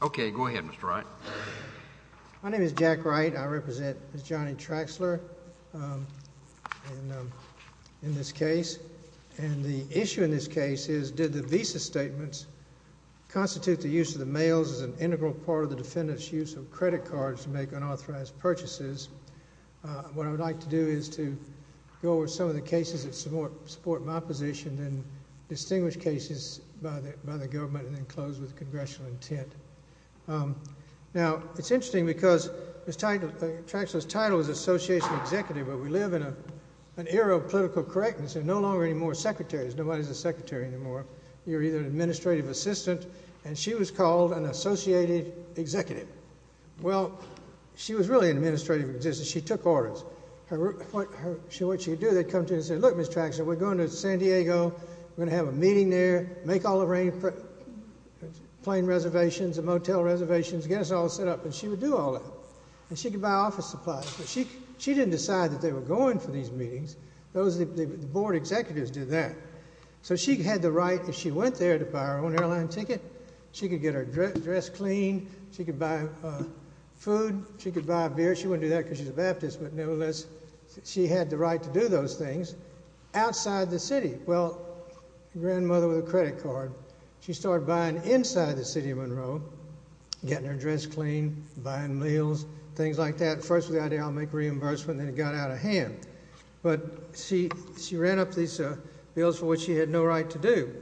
OK, go ahead, Mr. Wright. My name is Jack Wright. I represent Ms. Johnnie Traxler in this case. And the issue in this case is, did the visa statements constitute the use of the mails as an integral part of the defendant's use of credit cards to make unauthorized purchases? What I would like to do is to go over some of the cases that support my position, then distinguish cases by the government, and then close with congressional intent. Now, it's interesting, because Ms. Traxler's title was association executive, but we live in an era of political correctness. There are no longer any more secretaries. Nobody's a secretary anymore. You're either an administrative assistant, and she was called an associated executive. Well, she was really an administrative assistant. She took orders. What she'd do, they'd come to her and say, look, Ms. Traxler, we're going to San Diego. We're going to have a meeting there. Make all the plane reservations and motel reservations. Get us all set up. And she would do all that. And she could buy office supplies. She didn't decide that they were going for these meetings. The board executives did that. So she had the right, if she went there, to buy her own airline ticket. She could get her dress cleaned. She could buy food. She could buy a beer. She wouldn't do that, because she's a Baptist. But nevertheless, she had the right to do those things outside the city. Well, her grandmother with a credit card, she started buying inside the city of Monroe, getting her dress cleaned, buying meals, things like that. First, the idea, I'll make reimbursement. Then it got out of hand. But she ran up these bills for which she had no right to do.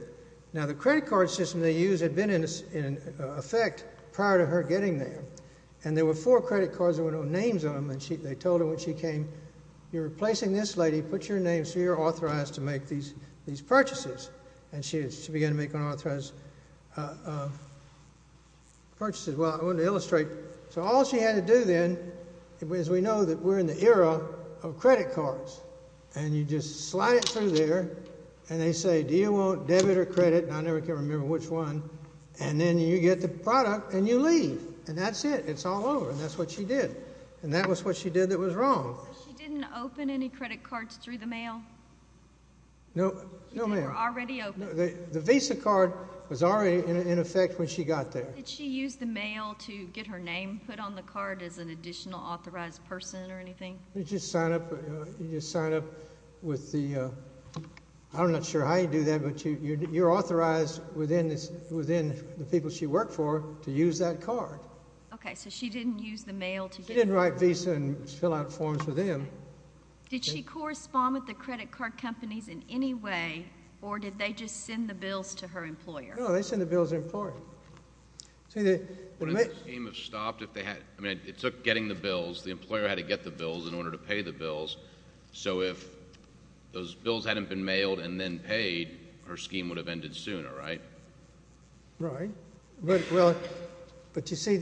Now, the credit card system they used had been in effect prior to her getting there. And there were four credit cards that were no names on them. And they told her when she came, you're replacing this lady. Put your name so you're authorized to make these purchases. And she began to make unauthorized purchases. Well, I want to illustrate. So all she had to do then was we know that we're in the era of credit cards. And you just slide it through there. And they say, do you want debit or credit? And I never can remember which one. And then you get the product, and you leave. And that's it. It's all over. And that's what she did. And that was what she did that was wrong. So she didn't open any credit cards through the mail? No, ma'am. They were already open. The Visa card was already in effect when she got there. Did she use the mail to get her name put on the card as an additional authorized person or anything? You just sign up with the, I'm not sure how you do that. But you're authorized within the people she worked for to use that card. OK, so she didn't use the mail to get the card. She didn't write Visa and fill out forms for them. Did she correspond with the credit card companies in any way? Or did they just send the bills to her employer? No, they sent the bills to the employer. See, they may have stopped if they had. I mean, it took getting the bills. The employer had to get the bills in order to pay the bills. So if those bills hadn't been mailed and then paid, her scheme would have ended sooner, right? Right. Well, but you see,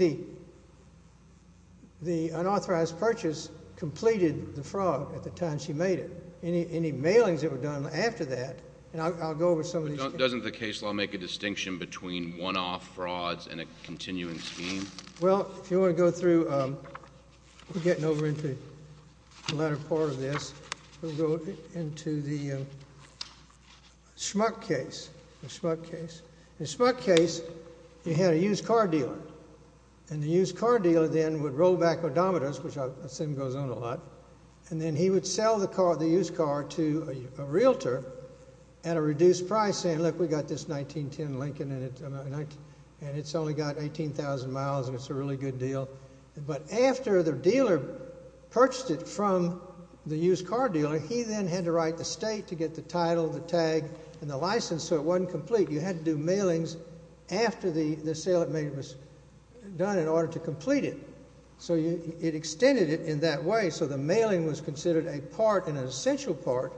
the unauthorized purchase completed the fraud at the time she made it. Any mailings that were done after that, and I'll go over some of these. Doesn't the case law make a distinction between one-off frauds and a continuing scheme? Well, if you want to go through, we're getting over into the latter part of this. We'll go into the Schmuck case, the Schmuck case. In the Schmuck case, you had a used car dealer. And the used car dealer then would roll back odometers, which I assume goes on a lot, and then he would sell the used car to a realtor at a reduced price, saying, look, we got this 1910 Lincoln, and it's only got 18,000 miles, and it's a really good deal. But after the dealer purchased it from the used car dealer, he then had to write the state to get the title, the tag, and the license so it wasn't complete. You had to do mailings after the sale that was done in order to complete it. So it extended it in that way, so the mailing was considered a part and an essential part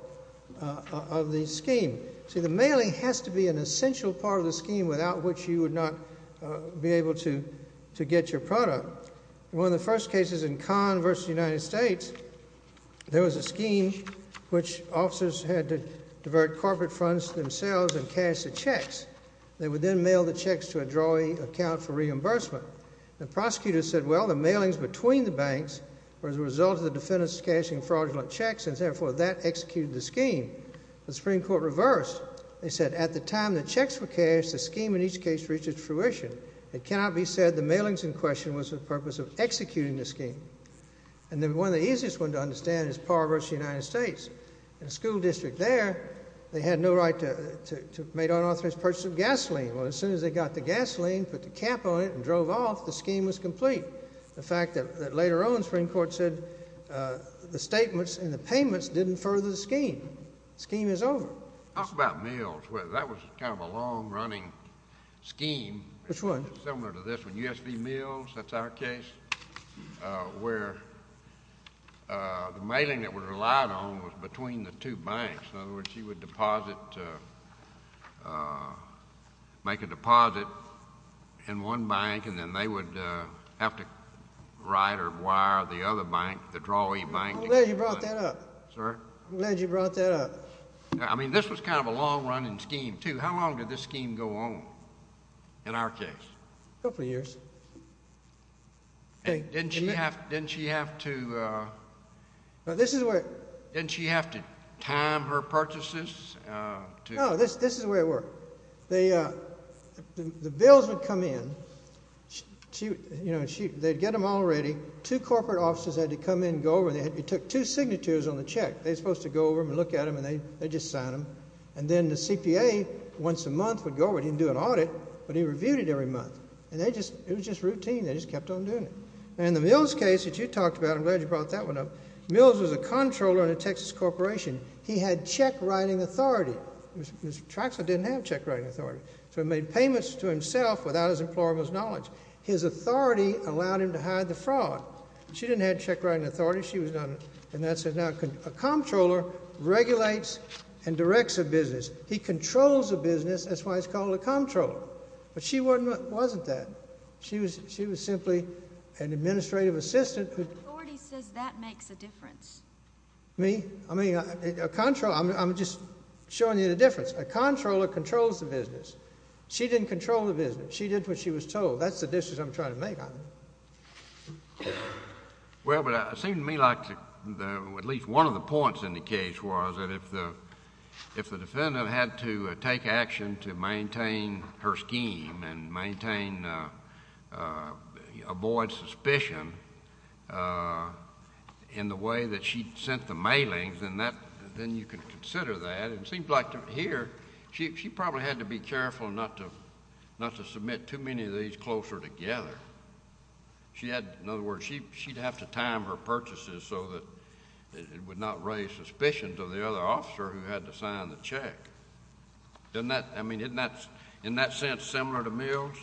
of the scheme. See, the mailing has to be an essential part of the scheme without which you would not be able to get your product. One of the first cases in Conn versus the United States, there was a scheme which officers had to divert corporate funds themselves and cash the checks. They would then mail the checks to a drawery account for reimbursement. The prosecutor said, well, the mailings between the banks were as a result of the defendants cashing fraudulent checks, and therefore, that executed the scheme. The Supreme Court reversed. They said, at the time the checks were cashed, the scheme in each case reached its fruition. It cannot be said the mailings in question was the purpose of executing the scheme. And then one of the easiest ones to understand is Par versus the United States. In the school district there, they had no right to have made unauthorized purchase of gasoline. Well, as soon as they got the gasoline, put the cap on it, and drove off, the scheme was complete. The fact that later on, the Supreme Court said the statements and the payments didn't further the scheme. Scheme is over. Talk about mills. Well, that was kind of a long-running scheme. Which one? Similar to this one, USV Mills. That's our case, where the mailing that was relied on was between the two banks. In other words, you would make a deposit in one bank, and then they would have to write or wire the other bank, the drawee bank. I'm glad you brought that up. Sir? I'm glad you brought that up. I mean, this was kind of a long-running scheme, too. How long did this scheme go on, in our case? A couple of years. Didn't she have to? This is where. Didn't she have to time her purchases? No, this is the way it worked. The bills would come in. They'd get them all ready. Two corporate officers had to come in and go over, and they took two signatures on the check. They were supposed to go over and look at them, and they'd just sign them. And then the CPA, once a month, would go over it. He didn't do an audit, but he reviewed it every month. And it was just routine. They just kept on doing it. In the Mills case that you talked about, I'm glad you brought that one up. Mills was a comptroller in a Texas corporation. He had check-writing authority. Mr. Traxler didn't have check-writing authority. So he made payments to himself without his employer's knowledge. His authority allowed him to hide the fraud. She didn't have check-writing authority. She was not. And that's it. Now, a comptroller regulates and directs a business. He controls a business. That's why it's called a comptroller. But she wasn't that. She was simply an administrative assistant. The authority says that makes a difference. Me? I mean, a comptroller. I'm just showing you the difference. A comptroller controls the business. She didn't control the business. She did what she was told. That's the distance I'm trying to make on it. Well, but it seemed to me like at least one of the points in the case was that if the defendant had to take action to maintain her scheme and maintain, avoid suspicion in the way that she'd sent the mailings, then you could consider that. It seems like here, she probably had to be careful not to submit too many of these closer together. She had, in other words, she'd have to time her purchases so that it would not raise suspicions of the other officer who had to sign the check. Doesn't that, I mean, isn't that, in that sense, similar to Mills?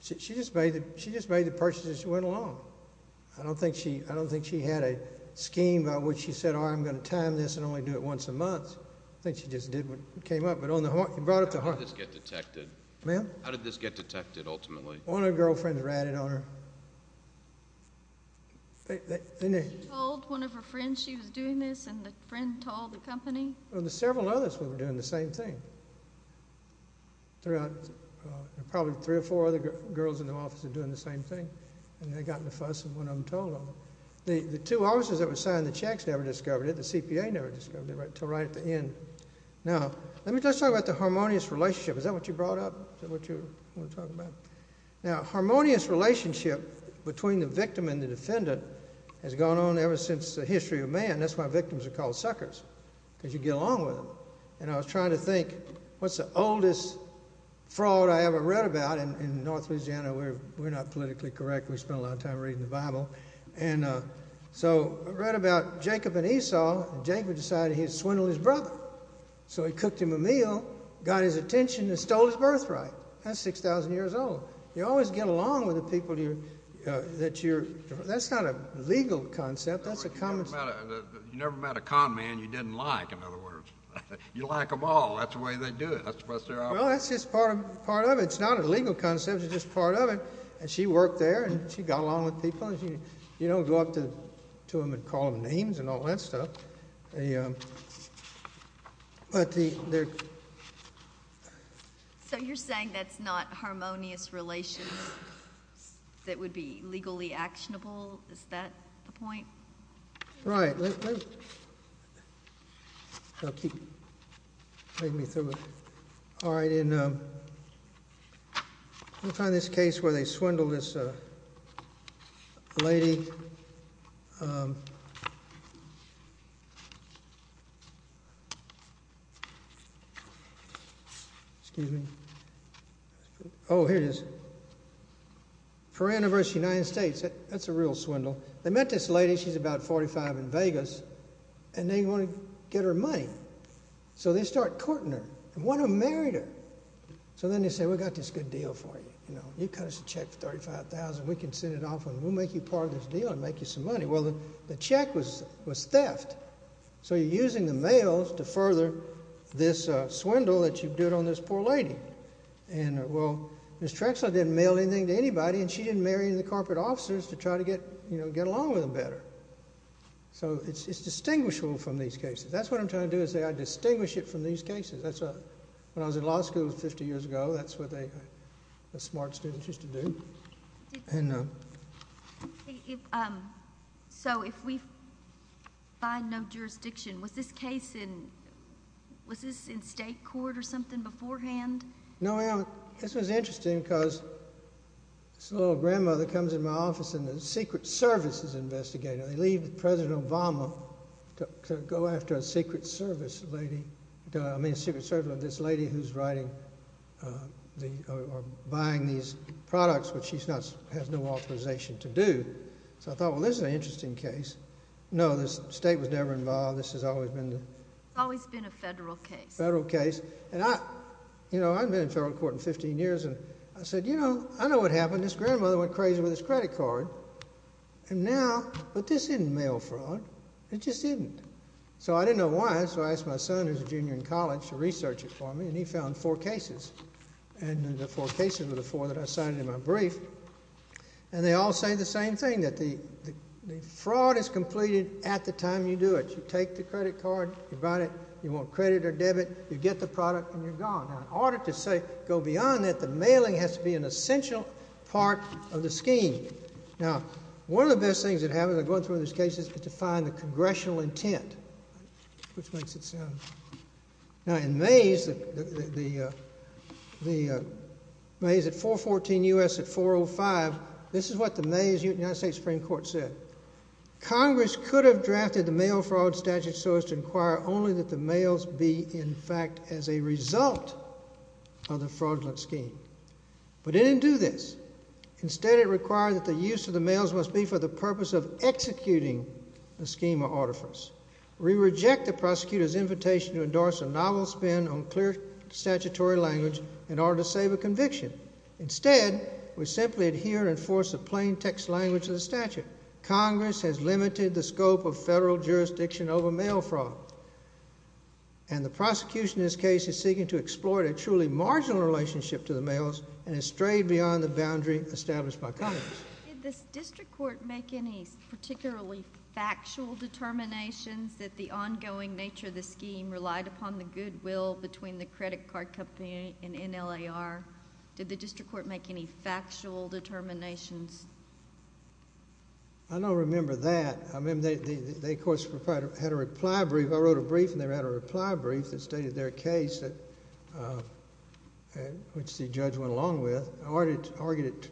She just made the purchases. She went along. I don't think she had a scheme by which she said, all right, I'm going to time this and only do it once a month. I think she just did what came up. But you brought it to heart. How did this get detected? Ma'am? How did this get detected, ultimately? One of her girlfriends ratted on her. She told one of her friends she was doing this, and the friend told the company? Well, there were several others who were doing the same thing. There were probably three or four other girls in the office doing the same thing. And they got in a fuss, and one of them told them. The two officers that were signing the checks never discovered it. The CPA never discovered it until right at the end. Now, let me just talk about the harmonious relationship. Is that what you brought up? Is that what you want to talk about? Now, a harmonious relationship between the victim and the defendant has gone on ever since the history of man. That's why victims are called suckers, because you get along with them. And I was trying to think, what's the oldest fraud I ever read about? In North Louisiana, we're not politically correct. We spend a lot of time reading the Bible. And so I read about Jacob and Esau. Jacob decided he'd swindle his brother. So he cooked him a meal, got his attention, and stole his birthright. That's 6,000 years old. You always get along with the people that you're. That's not a legal concept. You never met a con man you didn't like, in other words. You like them all. That's the way they do it. That's the best they are. Well, that's just part of it. It's not a legal concept. It's just part of it. And she worked there. And she got along with people. You don't go up to them and call them names and all that stuff. So you're saying that's not harmonious relations that would be legally actionable? Is that the point? Right. Let me find this case where they swindled this lady. Excuse me. Oh, here it is. For anniversary of the United States. That's a real swindle. They met this lady. She's about 45 in Vegas. And they want to get her money. So they start courting her and want to marry her. So then they say, we've got this good deal for you. You cut us a check for $35,000. We can send it off, and we'll make you part of this deal and make you some money. Well, the check was theft. So you're using the mail to further this swindle that you did on this poor lady. And well, Ms. Trexler didn't mail anything to anybody, and she didn't marry any of the corporate officers to try to get along with them better. So it's distinguishable from these cases. That's what I'm trying to do is say, I distinguish it from these cases. When I was in law school 50 years ago, that's what the smart students used to do. So if we find no jurisdiction, was this case in state court or something beforehand? No, this was interesting, because this little grandmother comes in my office, and the Secret Service is investigating. They leave President Obama to go after a Secret Service lady. I mean, a Secret Service, this lady who's writing or buying these products, which she has no authorization to do. So I thought, well, this is an interesting case. No, the state was never involved. This has always been the federal case. You know, I haven't been in federal court in 15 years. And I said, you know, I know what happened. This grandmother went crazy with this credit card. And now, but this isn't mail fraud. It just isn't. So I didn't know why. So I asked my son, who's a junior in college, to research it for me, and he found four cases. And the four cases were the four that I signed in my brief. And they all say the same thing, that the fraud is completed at the time you do it. You take the credit card, you buy it, you want credit or debit. You get the product, and you're gone. Now, in order to say, go beyond that, the mailing has to be an essential part of the scheme. Now, one of the best things that happens in going through these cases is to find the congressional intent, which makes it sound. Now, in Mays, the Mays at 414 US at 405, this is what the Mays United States Supreme Court said. Congress could have drafted the mail fraud statute so as to inquire only that the mails be, in fact, as a result of the fraudulent scheme. But it didn't do this. Instead, it required that the use of the mails must be for the purpose of executing the scheme of artifice. We reject the prosecutor's invitation to endorse a novel spin on clear statutory language in order to save a conviction. Instead, we simply adhere and enforce the plain text language of the statute. Congress has limited the scope of federal jurisdiction over mail fraud. And the prosecution in this case is seeking to exploit a truly marginal relationship to the mails and has strayed beyond the boundary established by Congress. Did the district court make any particularly factual determinations that the ongoing nature of the scheme relied upon the goodwill between the credit card company and NLAR? Did the district court make any factual determinations? I don't remember that. They, of course, had a reply brief. I wrote a brief, and they had a reply brief that stated their case, which the judge went along with. I argued it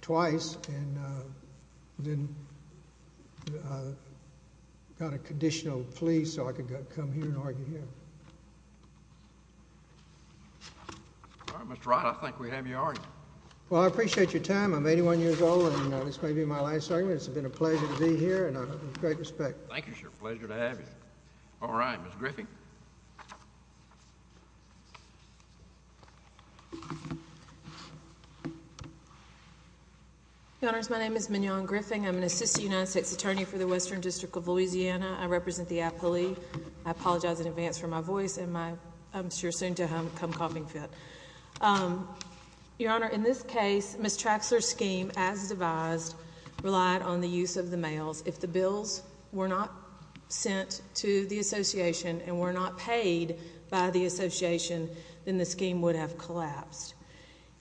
twice and then got a conditional plea so I could come here and argue here. All right, Mr. Wright, I think we have your argument. Well, I appreciate your time. I'm 81 years old, and this may be my last argument. It's been a pleasure to be here, and I have great respect. Thank you, sir. Pleasure to have you. All right, Ms. Griffin. Your Honors, my name is Mignon Griffin. I'm an assistant United States attorney for the Western District of Louisiana. I represent the appellee. I apologize in advance for my voice and my, I'm sure, soon-to-come coughing fit. Your Honor, in this case, Ms. Traxler's scheme, as devised, relied on the use of the mails. If the bills were not sent to the association and were not paid by the association, then the scheme would have collapsed.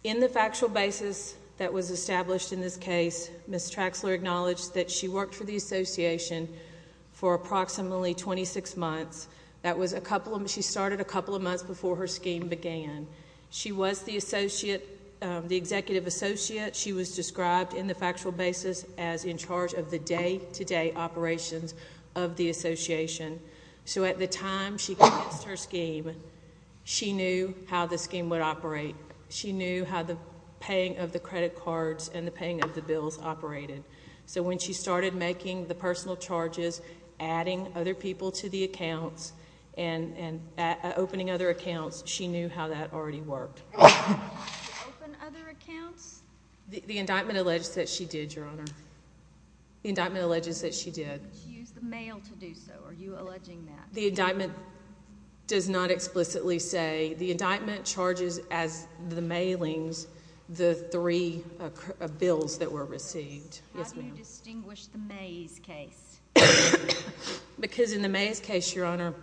In the factual basis that was established in this case, Ms. Traxler acknowledged that she worked for the association for approximately 26 months. That was a couple of, she started a couple of months before her scheme began. She was the associate, the executive associate. She was described in the factual basis as in charge of the day-to-day operations of the association. So at the time she cast her scheme, she knew how the scheme would operate. She knew how the paying of the credit cards and the paying of the bills operated. So when she started making the personal charges, adding other people to the accounts and opening other accounts, she knew how that already worked. Open other accounts? The indictment alleges that she did, Your Honor. The indictment alleges that she did. She used the mail to do so. Are you alleging that? The indictment does not explicitly say. that were received. Yes, ma'am. How do you distinguish the Mays case? Because in the Mays case, Your Honor,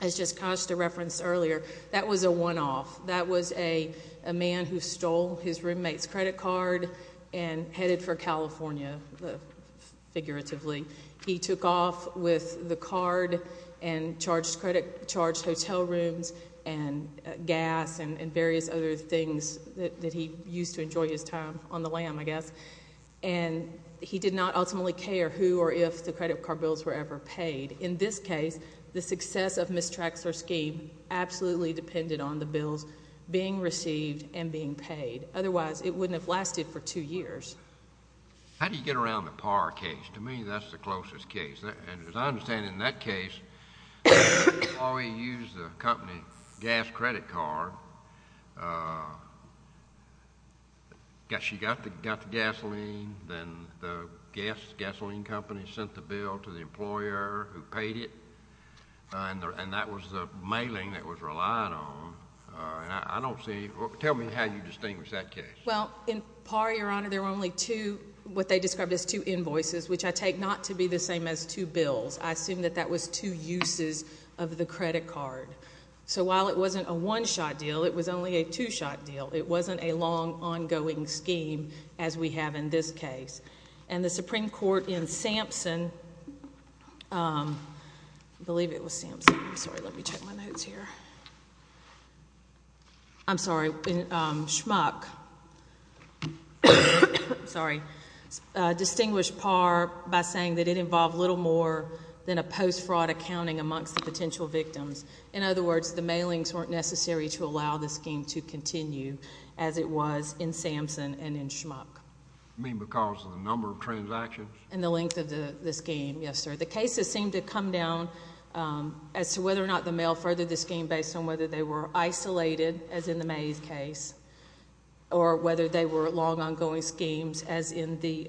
as just cast a reference earlier, that was a one-off. That was a man who stole his roommate's credit card and headed for California, figuratively. He took off with the card and charged hotel rooms and gas and various other things that he used to enjoy his time on the lam, I guess. And he did not ultimately care who or if the credit card bills were ever paid. In this case, the success of Ms. Traxler's scheme absolutely depended on the bills being received and being paid. Otherwise, it wouldn't have lasted for two years. How do you get around the Parr case? To me, that's the closest case. And as I understand it, in that case, Chloe used the company gas credit card. She got the gasoline, then the gas, the gasoline company, sent the bill to the employer who paid it. And that was the mailing that was relied on. I don't see, tell me how you distinguish that case. Well, in Parr, Your Honor, there were only two, what they described as two invoices, which I take not to be the same as two bills. I assume that that was two uses of the credit card. So while it wasn't a one-shot deal, it was only a two-shot deal. It wasn't a long, ongoing scheme as we have in this case. And the Supreme Court in Sampson, believe it was Sampson, sorry, let me check my notes here. I'm sorry, Schmuck, sorry, distinguished Parr by saying that it involved little more than a post-fraud accounting amongst the potential victims. In other words, the mailings weren't necessary to allow the scheme to continue as it was in Sampson and in Schmuck. You mean because of the number of transactions? And the length of the scheme, yes, sir. The cases seem to come down as to whether or not the mail furthered the scheme based on whether they were isolated, as in the Mays case, or whether they were long, ongoing schemes, as in the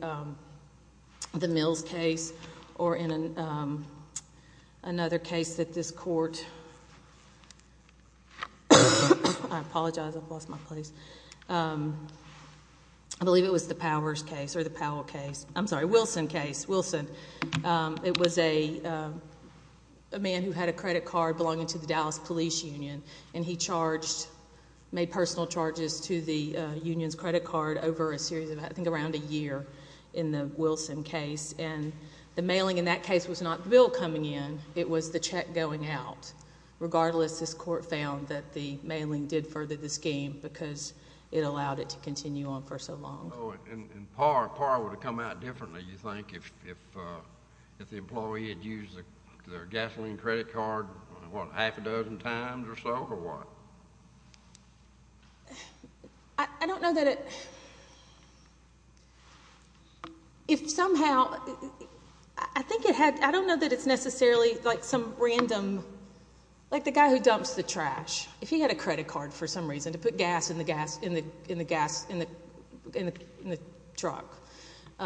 Mills case, or in another case that this court, I apologize. I've lost my place. I believe it was the Powers case, or the Powell case. I'm sorry, Wilson case, Wilson. It was a man who had a credit card belonging to the Dallas Police Union. And he made personal charges to the union's credit card over a series of, I think, around a year in the Wilson case. And the mailing in that case was not the bill coming in. It was the check going out. Regardless, this court found that the mailing did further the scheme, because it allowed it to continue on for so long. And PAR would have come out differently, you think, if the employee had used their gasoline credit card, what, half a dozen times or so, or what? I don't know that it. But if somehow, I don't know that it's necessarily like some random, like the guy who dumps the trash. If he had a credit card, for some reason, to put gas in the truck.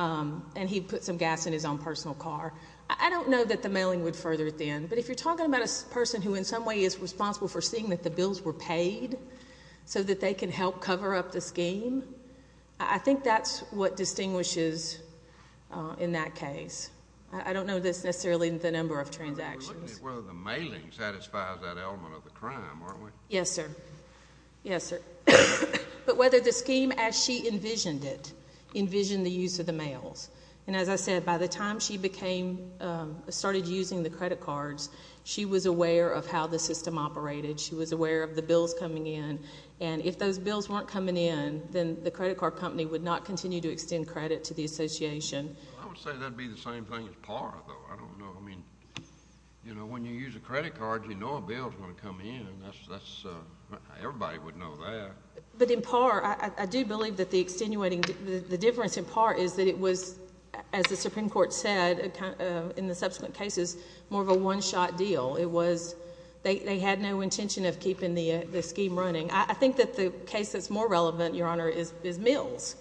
And he put some gas in his own personal car. I don't know that the mailing would further it then. But if you're talking about a person who, in some way, is responsible for seeing that the bills were paid, so that they can help cover up the scheme, I think that's what distinguishes in that case. I don't know that's necessarily the number of transactions. We're looking at whether the mailing satisfies that element of the crime, aren't we? Yes, sir. Yes, sir. But whether the scheme, as she envisioned it, envisioned the use of the mails. And as I said, by the time she started using the credit cards, she was aware of how the system operated. She was aware of the bills coming in. And if those bills weren't coming in, then the credit card company would not continue to extend credit to the association. I would say that'd be the same thing as PAR, though. I don't know. I mean, when you use a credit card, you know a bill's going to come in. Everybody would know that. But in PAR, I do believe that the difference in PAR is that it was, as the Supreme Court said in the subsequent cases, more of a one-shot deal. They had no intention of keeping the scheme running. I think that the case that's more relevant, Your Honor, is Mills,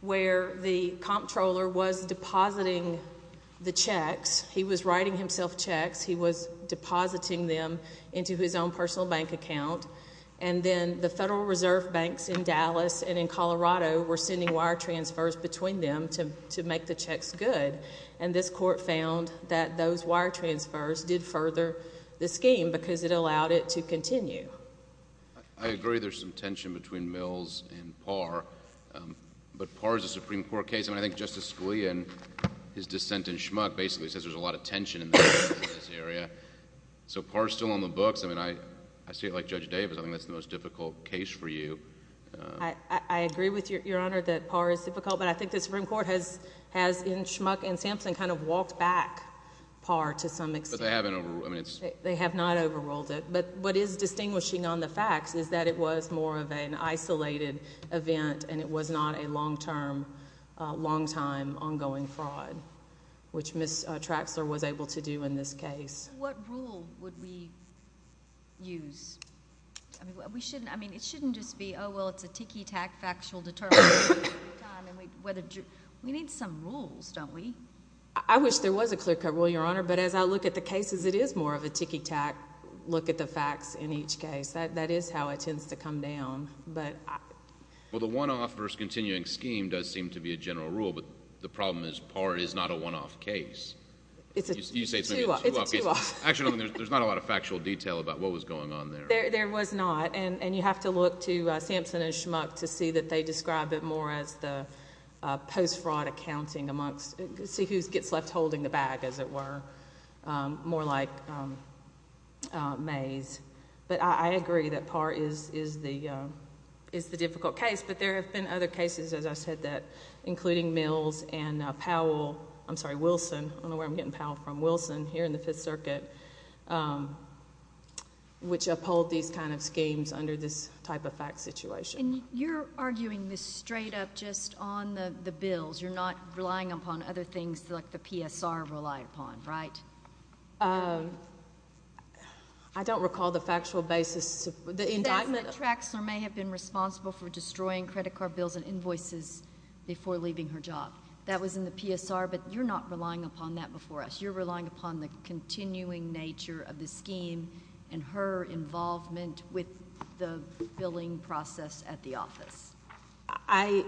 where the comptroller was depositing the checks. He was writing himself checks. He was depositing them into his own personal bank account. And then the Federal Reserve Banks in Dallas and in Colorado were sending wire transfers between them to make the checks good. And this court found that those wire transfers did further the scheme, because it allowed it to continue. I agree there's some tension between Mills and PAR. But PAR is a Supreme Court case. And I think Justice Scalia, in his dissent in Schmuck, basically says there's a lot of tension in this area. So PAR's still on the books. I mean, I see it like Judge Davis. I think that's the most difficult case for you. I agree with Your Honor that PAR is difficult. But I think the Supreme Court has, in Schmuck and Sampson, kind of walked back PAR to some extent. They have not overruled it. But what is distinguishing on the facts is that it was more of an isolated event. And it was not a long-term, long-time, ongoing fraud, which Ms. Traxler was able to do in this case. What rule would we use? I mean, it shouldn't just be, oh, well, it's a ticky-tack factual deterrent. We need some rules, don't we? I wish there was a clear-cut rule, Your Honor. But as I look at the cases, it is more of a ticky-tack look at the facts in each case. That is how it tends to come down. Well, the one-off versus continuing scheme does seem to be a general rule. But the problem is PAR is not a one-off case. You say it's maybe a two-off case. Actually, there's not a lot of factual detail about what was going on there. There was not. And you have to look to Sampson and Schmuck to see that they describe it more as the post-fraud accounting amongst, see who gets left holding the bag, as it were, more like Mays. But I agree that PAR is the difficult case. But there have been other cases, as I said, that, including Mills and Powell, I'm sorry, Wilson. I don't know where I'm getting Powell from. Wilson, here in the Fifth Circuit, which uphold these kind of schemes under this type of fact situation. And you're arguing this straight up just on the bills. You're not relying upon other things like the PSR relied upon, right? I don't recall the factual basis. The indictment. Traxler may have been responsible for destroying credit card bills and invoices before leaving her job. That was in the PSR. But you're not relying upon that before us. You're relying upon the continuing nature of the scheme and her involvement with the billing process at the office. I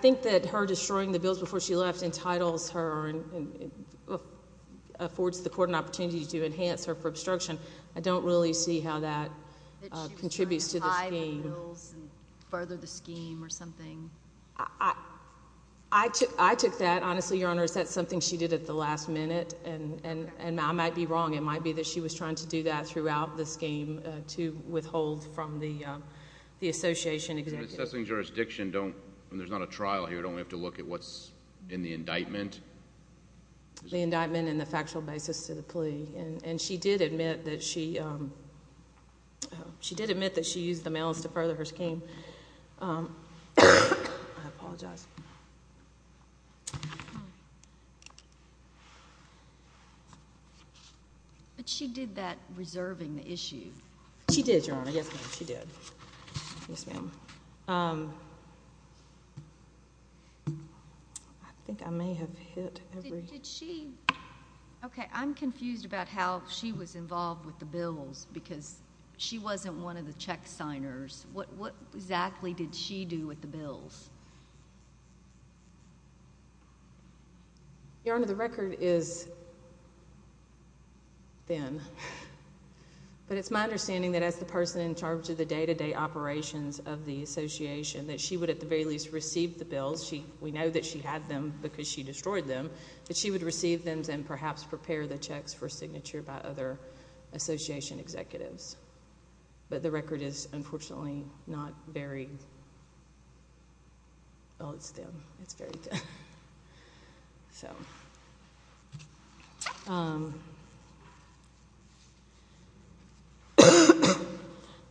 think that her destroying the bills before she left entitles her and affords the court an opportunity to enhance her for obstruction. I don't really see how that contributes to the scheme. That she was trying to hide the bills and further the scheme or something. I took that, honestly, Your Honors. That's something she did at the last minute. And I might be wrong. It might be that she was trying to do that throughout the scheme to withhold from the association executive. Assessing jurisdiction, when there's not a trial here, don't we have to look at what's in the indictment? The indictment and the factual basis to the plea. And she did admit that she used the mails to further her scheme. I apologize. But she did that reserving the issue. She did, Your Honor. Yes, ma'am. She did. Yes, ma'am. I think I may have hit every. OK, I'm confused about how she was involved with the bills. Because she wasn't one of the check signers. What exactly did she do with the bills? Your Honor, the record is thin. But it's my understanding that as the person in charge of the day-to-day operations of the association, that she would at the very least receive the bills. We know that she had them because she destroyed them. But she would receive them and perhaps prepare the checks for signature by other association executives. But the record is unfortunately not very, well, it's thin. It's very thin. So.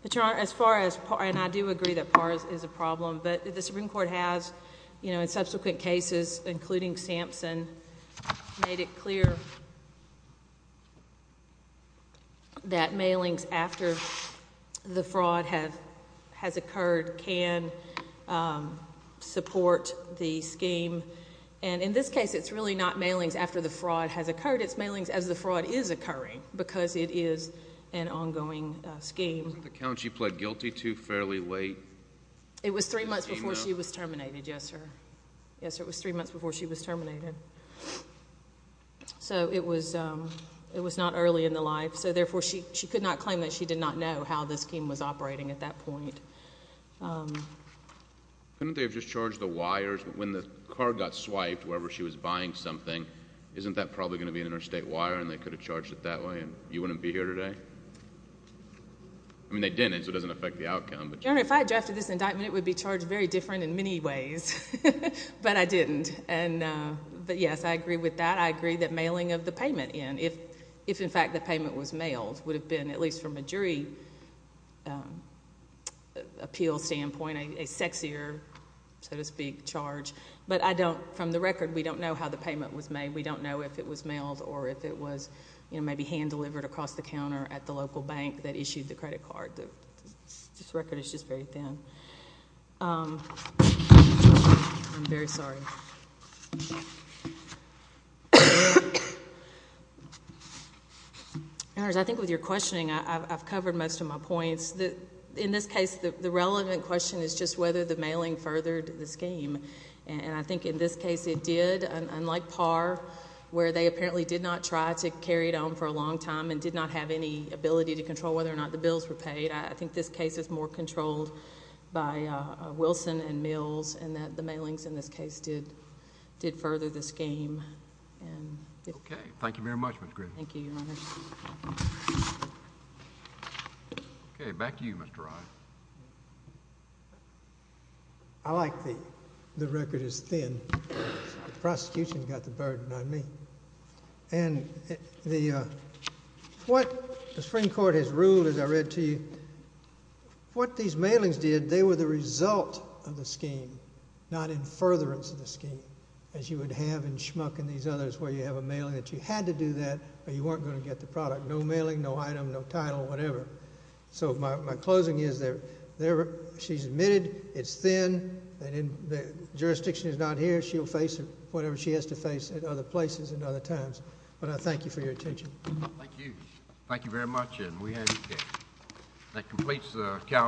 But Your Honor, as far as, and I do agree that PAR is a problem. But the Supreme Court has, in subsequent cases, including Sampson, made it clear that mailings after the fraud has occurred can support the scheme. And in this case, it's really not mailings after the fraud has occurred. It's mailings as the fraud is occurring, because it is an ongoing scheme. The count she pled guilty to fairly late. It was three months before she was terminated, yes, sir. Yes, sir, it was three months before she was terminated. So it was not early in the life. So therefore, she could not claim that she did not know how the scheme was operating at that point. Couldn't they have just charged the wires? When the car got swiped, wherever she was buying something, isn't that probably going to be an interstate wire, and they could have charged it that way, and you wouldn't be here today? I mean, they didn't, so it doesn't affect the outcome. Your Honor, if I drafted this indictment, it would be charged very different in many ways. But I didn't. But yes, I agree with that. I agree that mailing of the payment in, if, in fact, the payment was mailed, would have been, at least from a jury appeal standpoint, a sexier, so to speak, charge. But from the record, we don't know how the payment was made. We don't know if it was mailed or if it was maybe hand-delivered across the counter at the local bank that issued the credit card. This record is just very thin. I'm very sorry. Your Honor, I think with your questioning, I've covered most of my points. In this case, the relevant question is just whether the mailing furthered the scheme. And I think in this case it did, unlike Parr, where they apparently did not try to carry it on for a long time and did not have any ability to control whether or not the bills were paid. I think this case is more controlled by Wilson and Mills and that the mailings in this case did further the scheme. OK. Thank you very much, Ms. Griffin. Thank you, Your Honor. OK. Back to you, Mr. Rye. I like the record is thin because the prosecution got the burden on me. And what the Supreme Court has ruled, as I read to you, what these mailings did, they were the result of the scheme, not in furtherance of the scheme, as you would have in Schmuck and these others where you have a mailing that you had to do that, or you weren't going to get the product. No mailing, no item, no title, whatever. So my closing is that she's admitted, it's thin, and the jurisdiction is not here. She'll face whatever she has to face at other places and other times. But I thank you for your attention. Thank you. Thank you very much. And we have a case. That completes the calendar.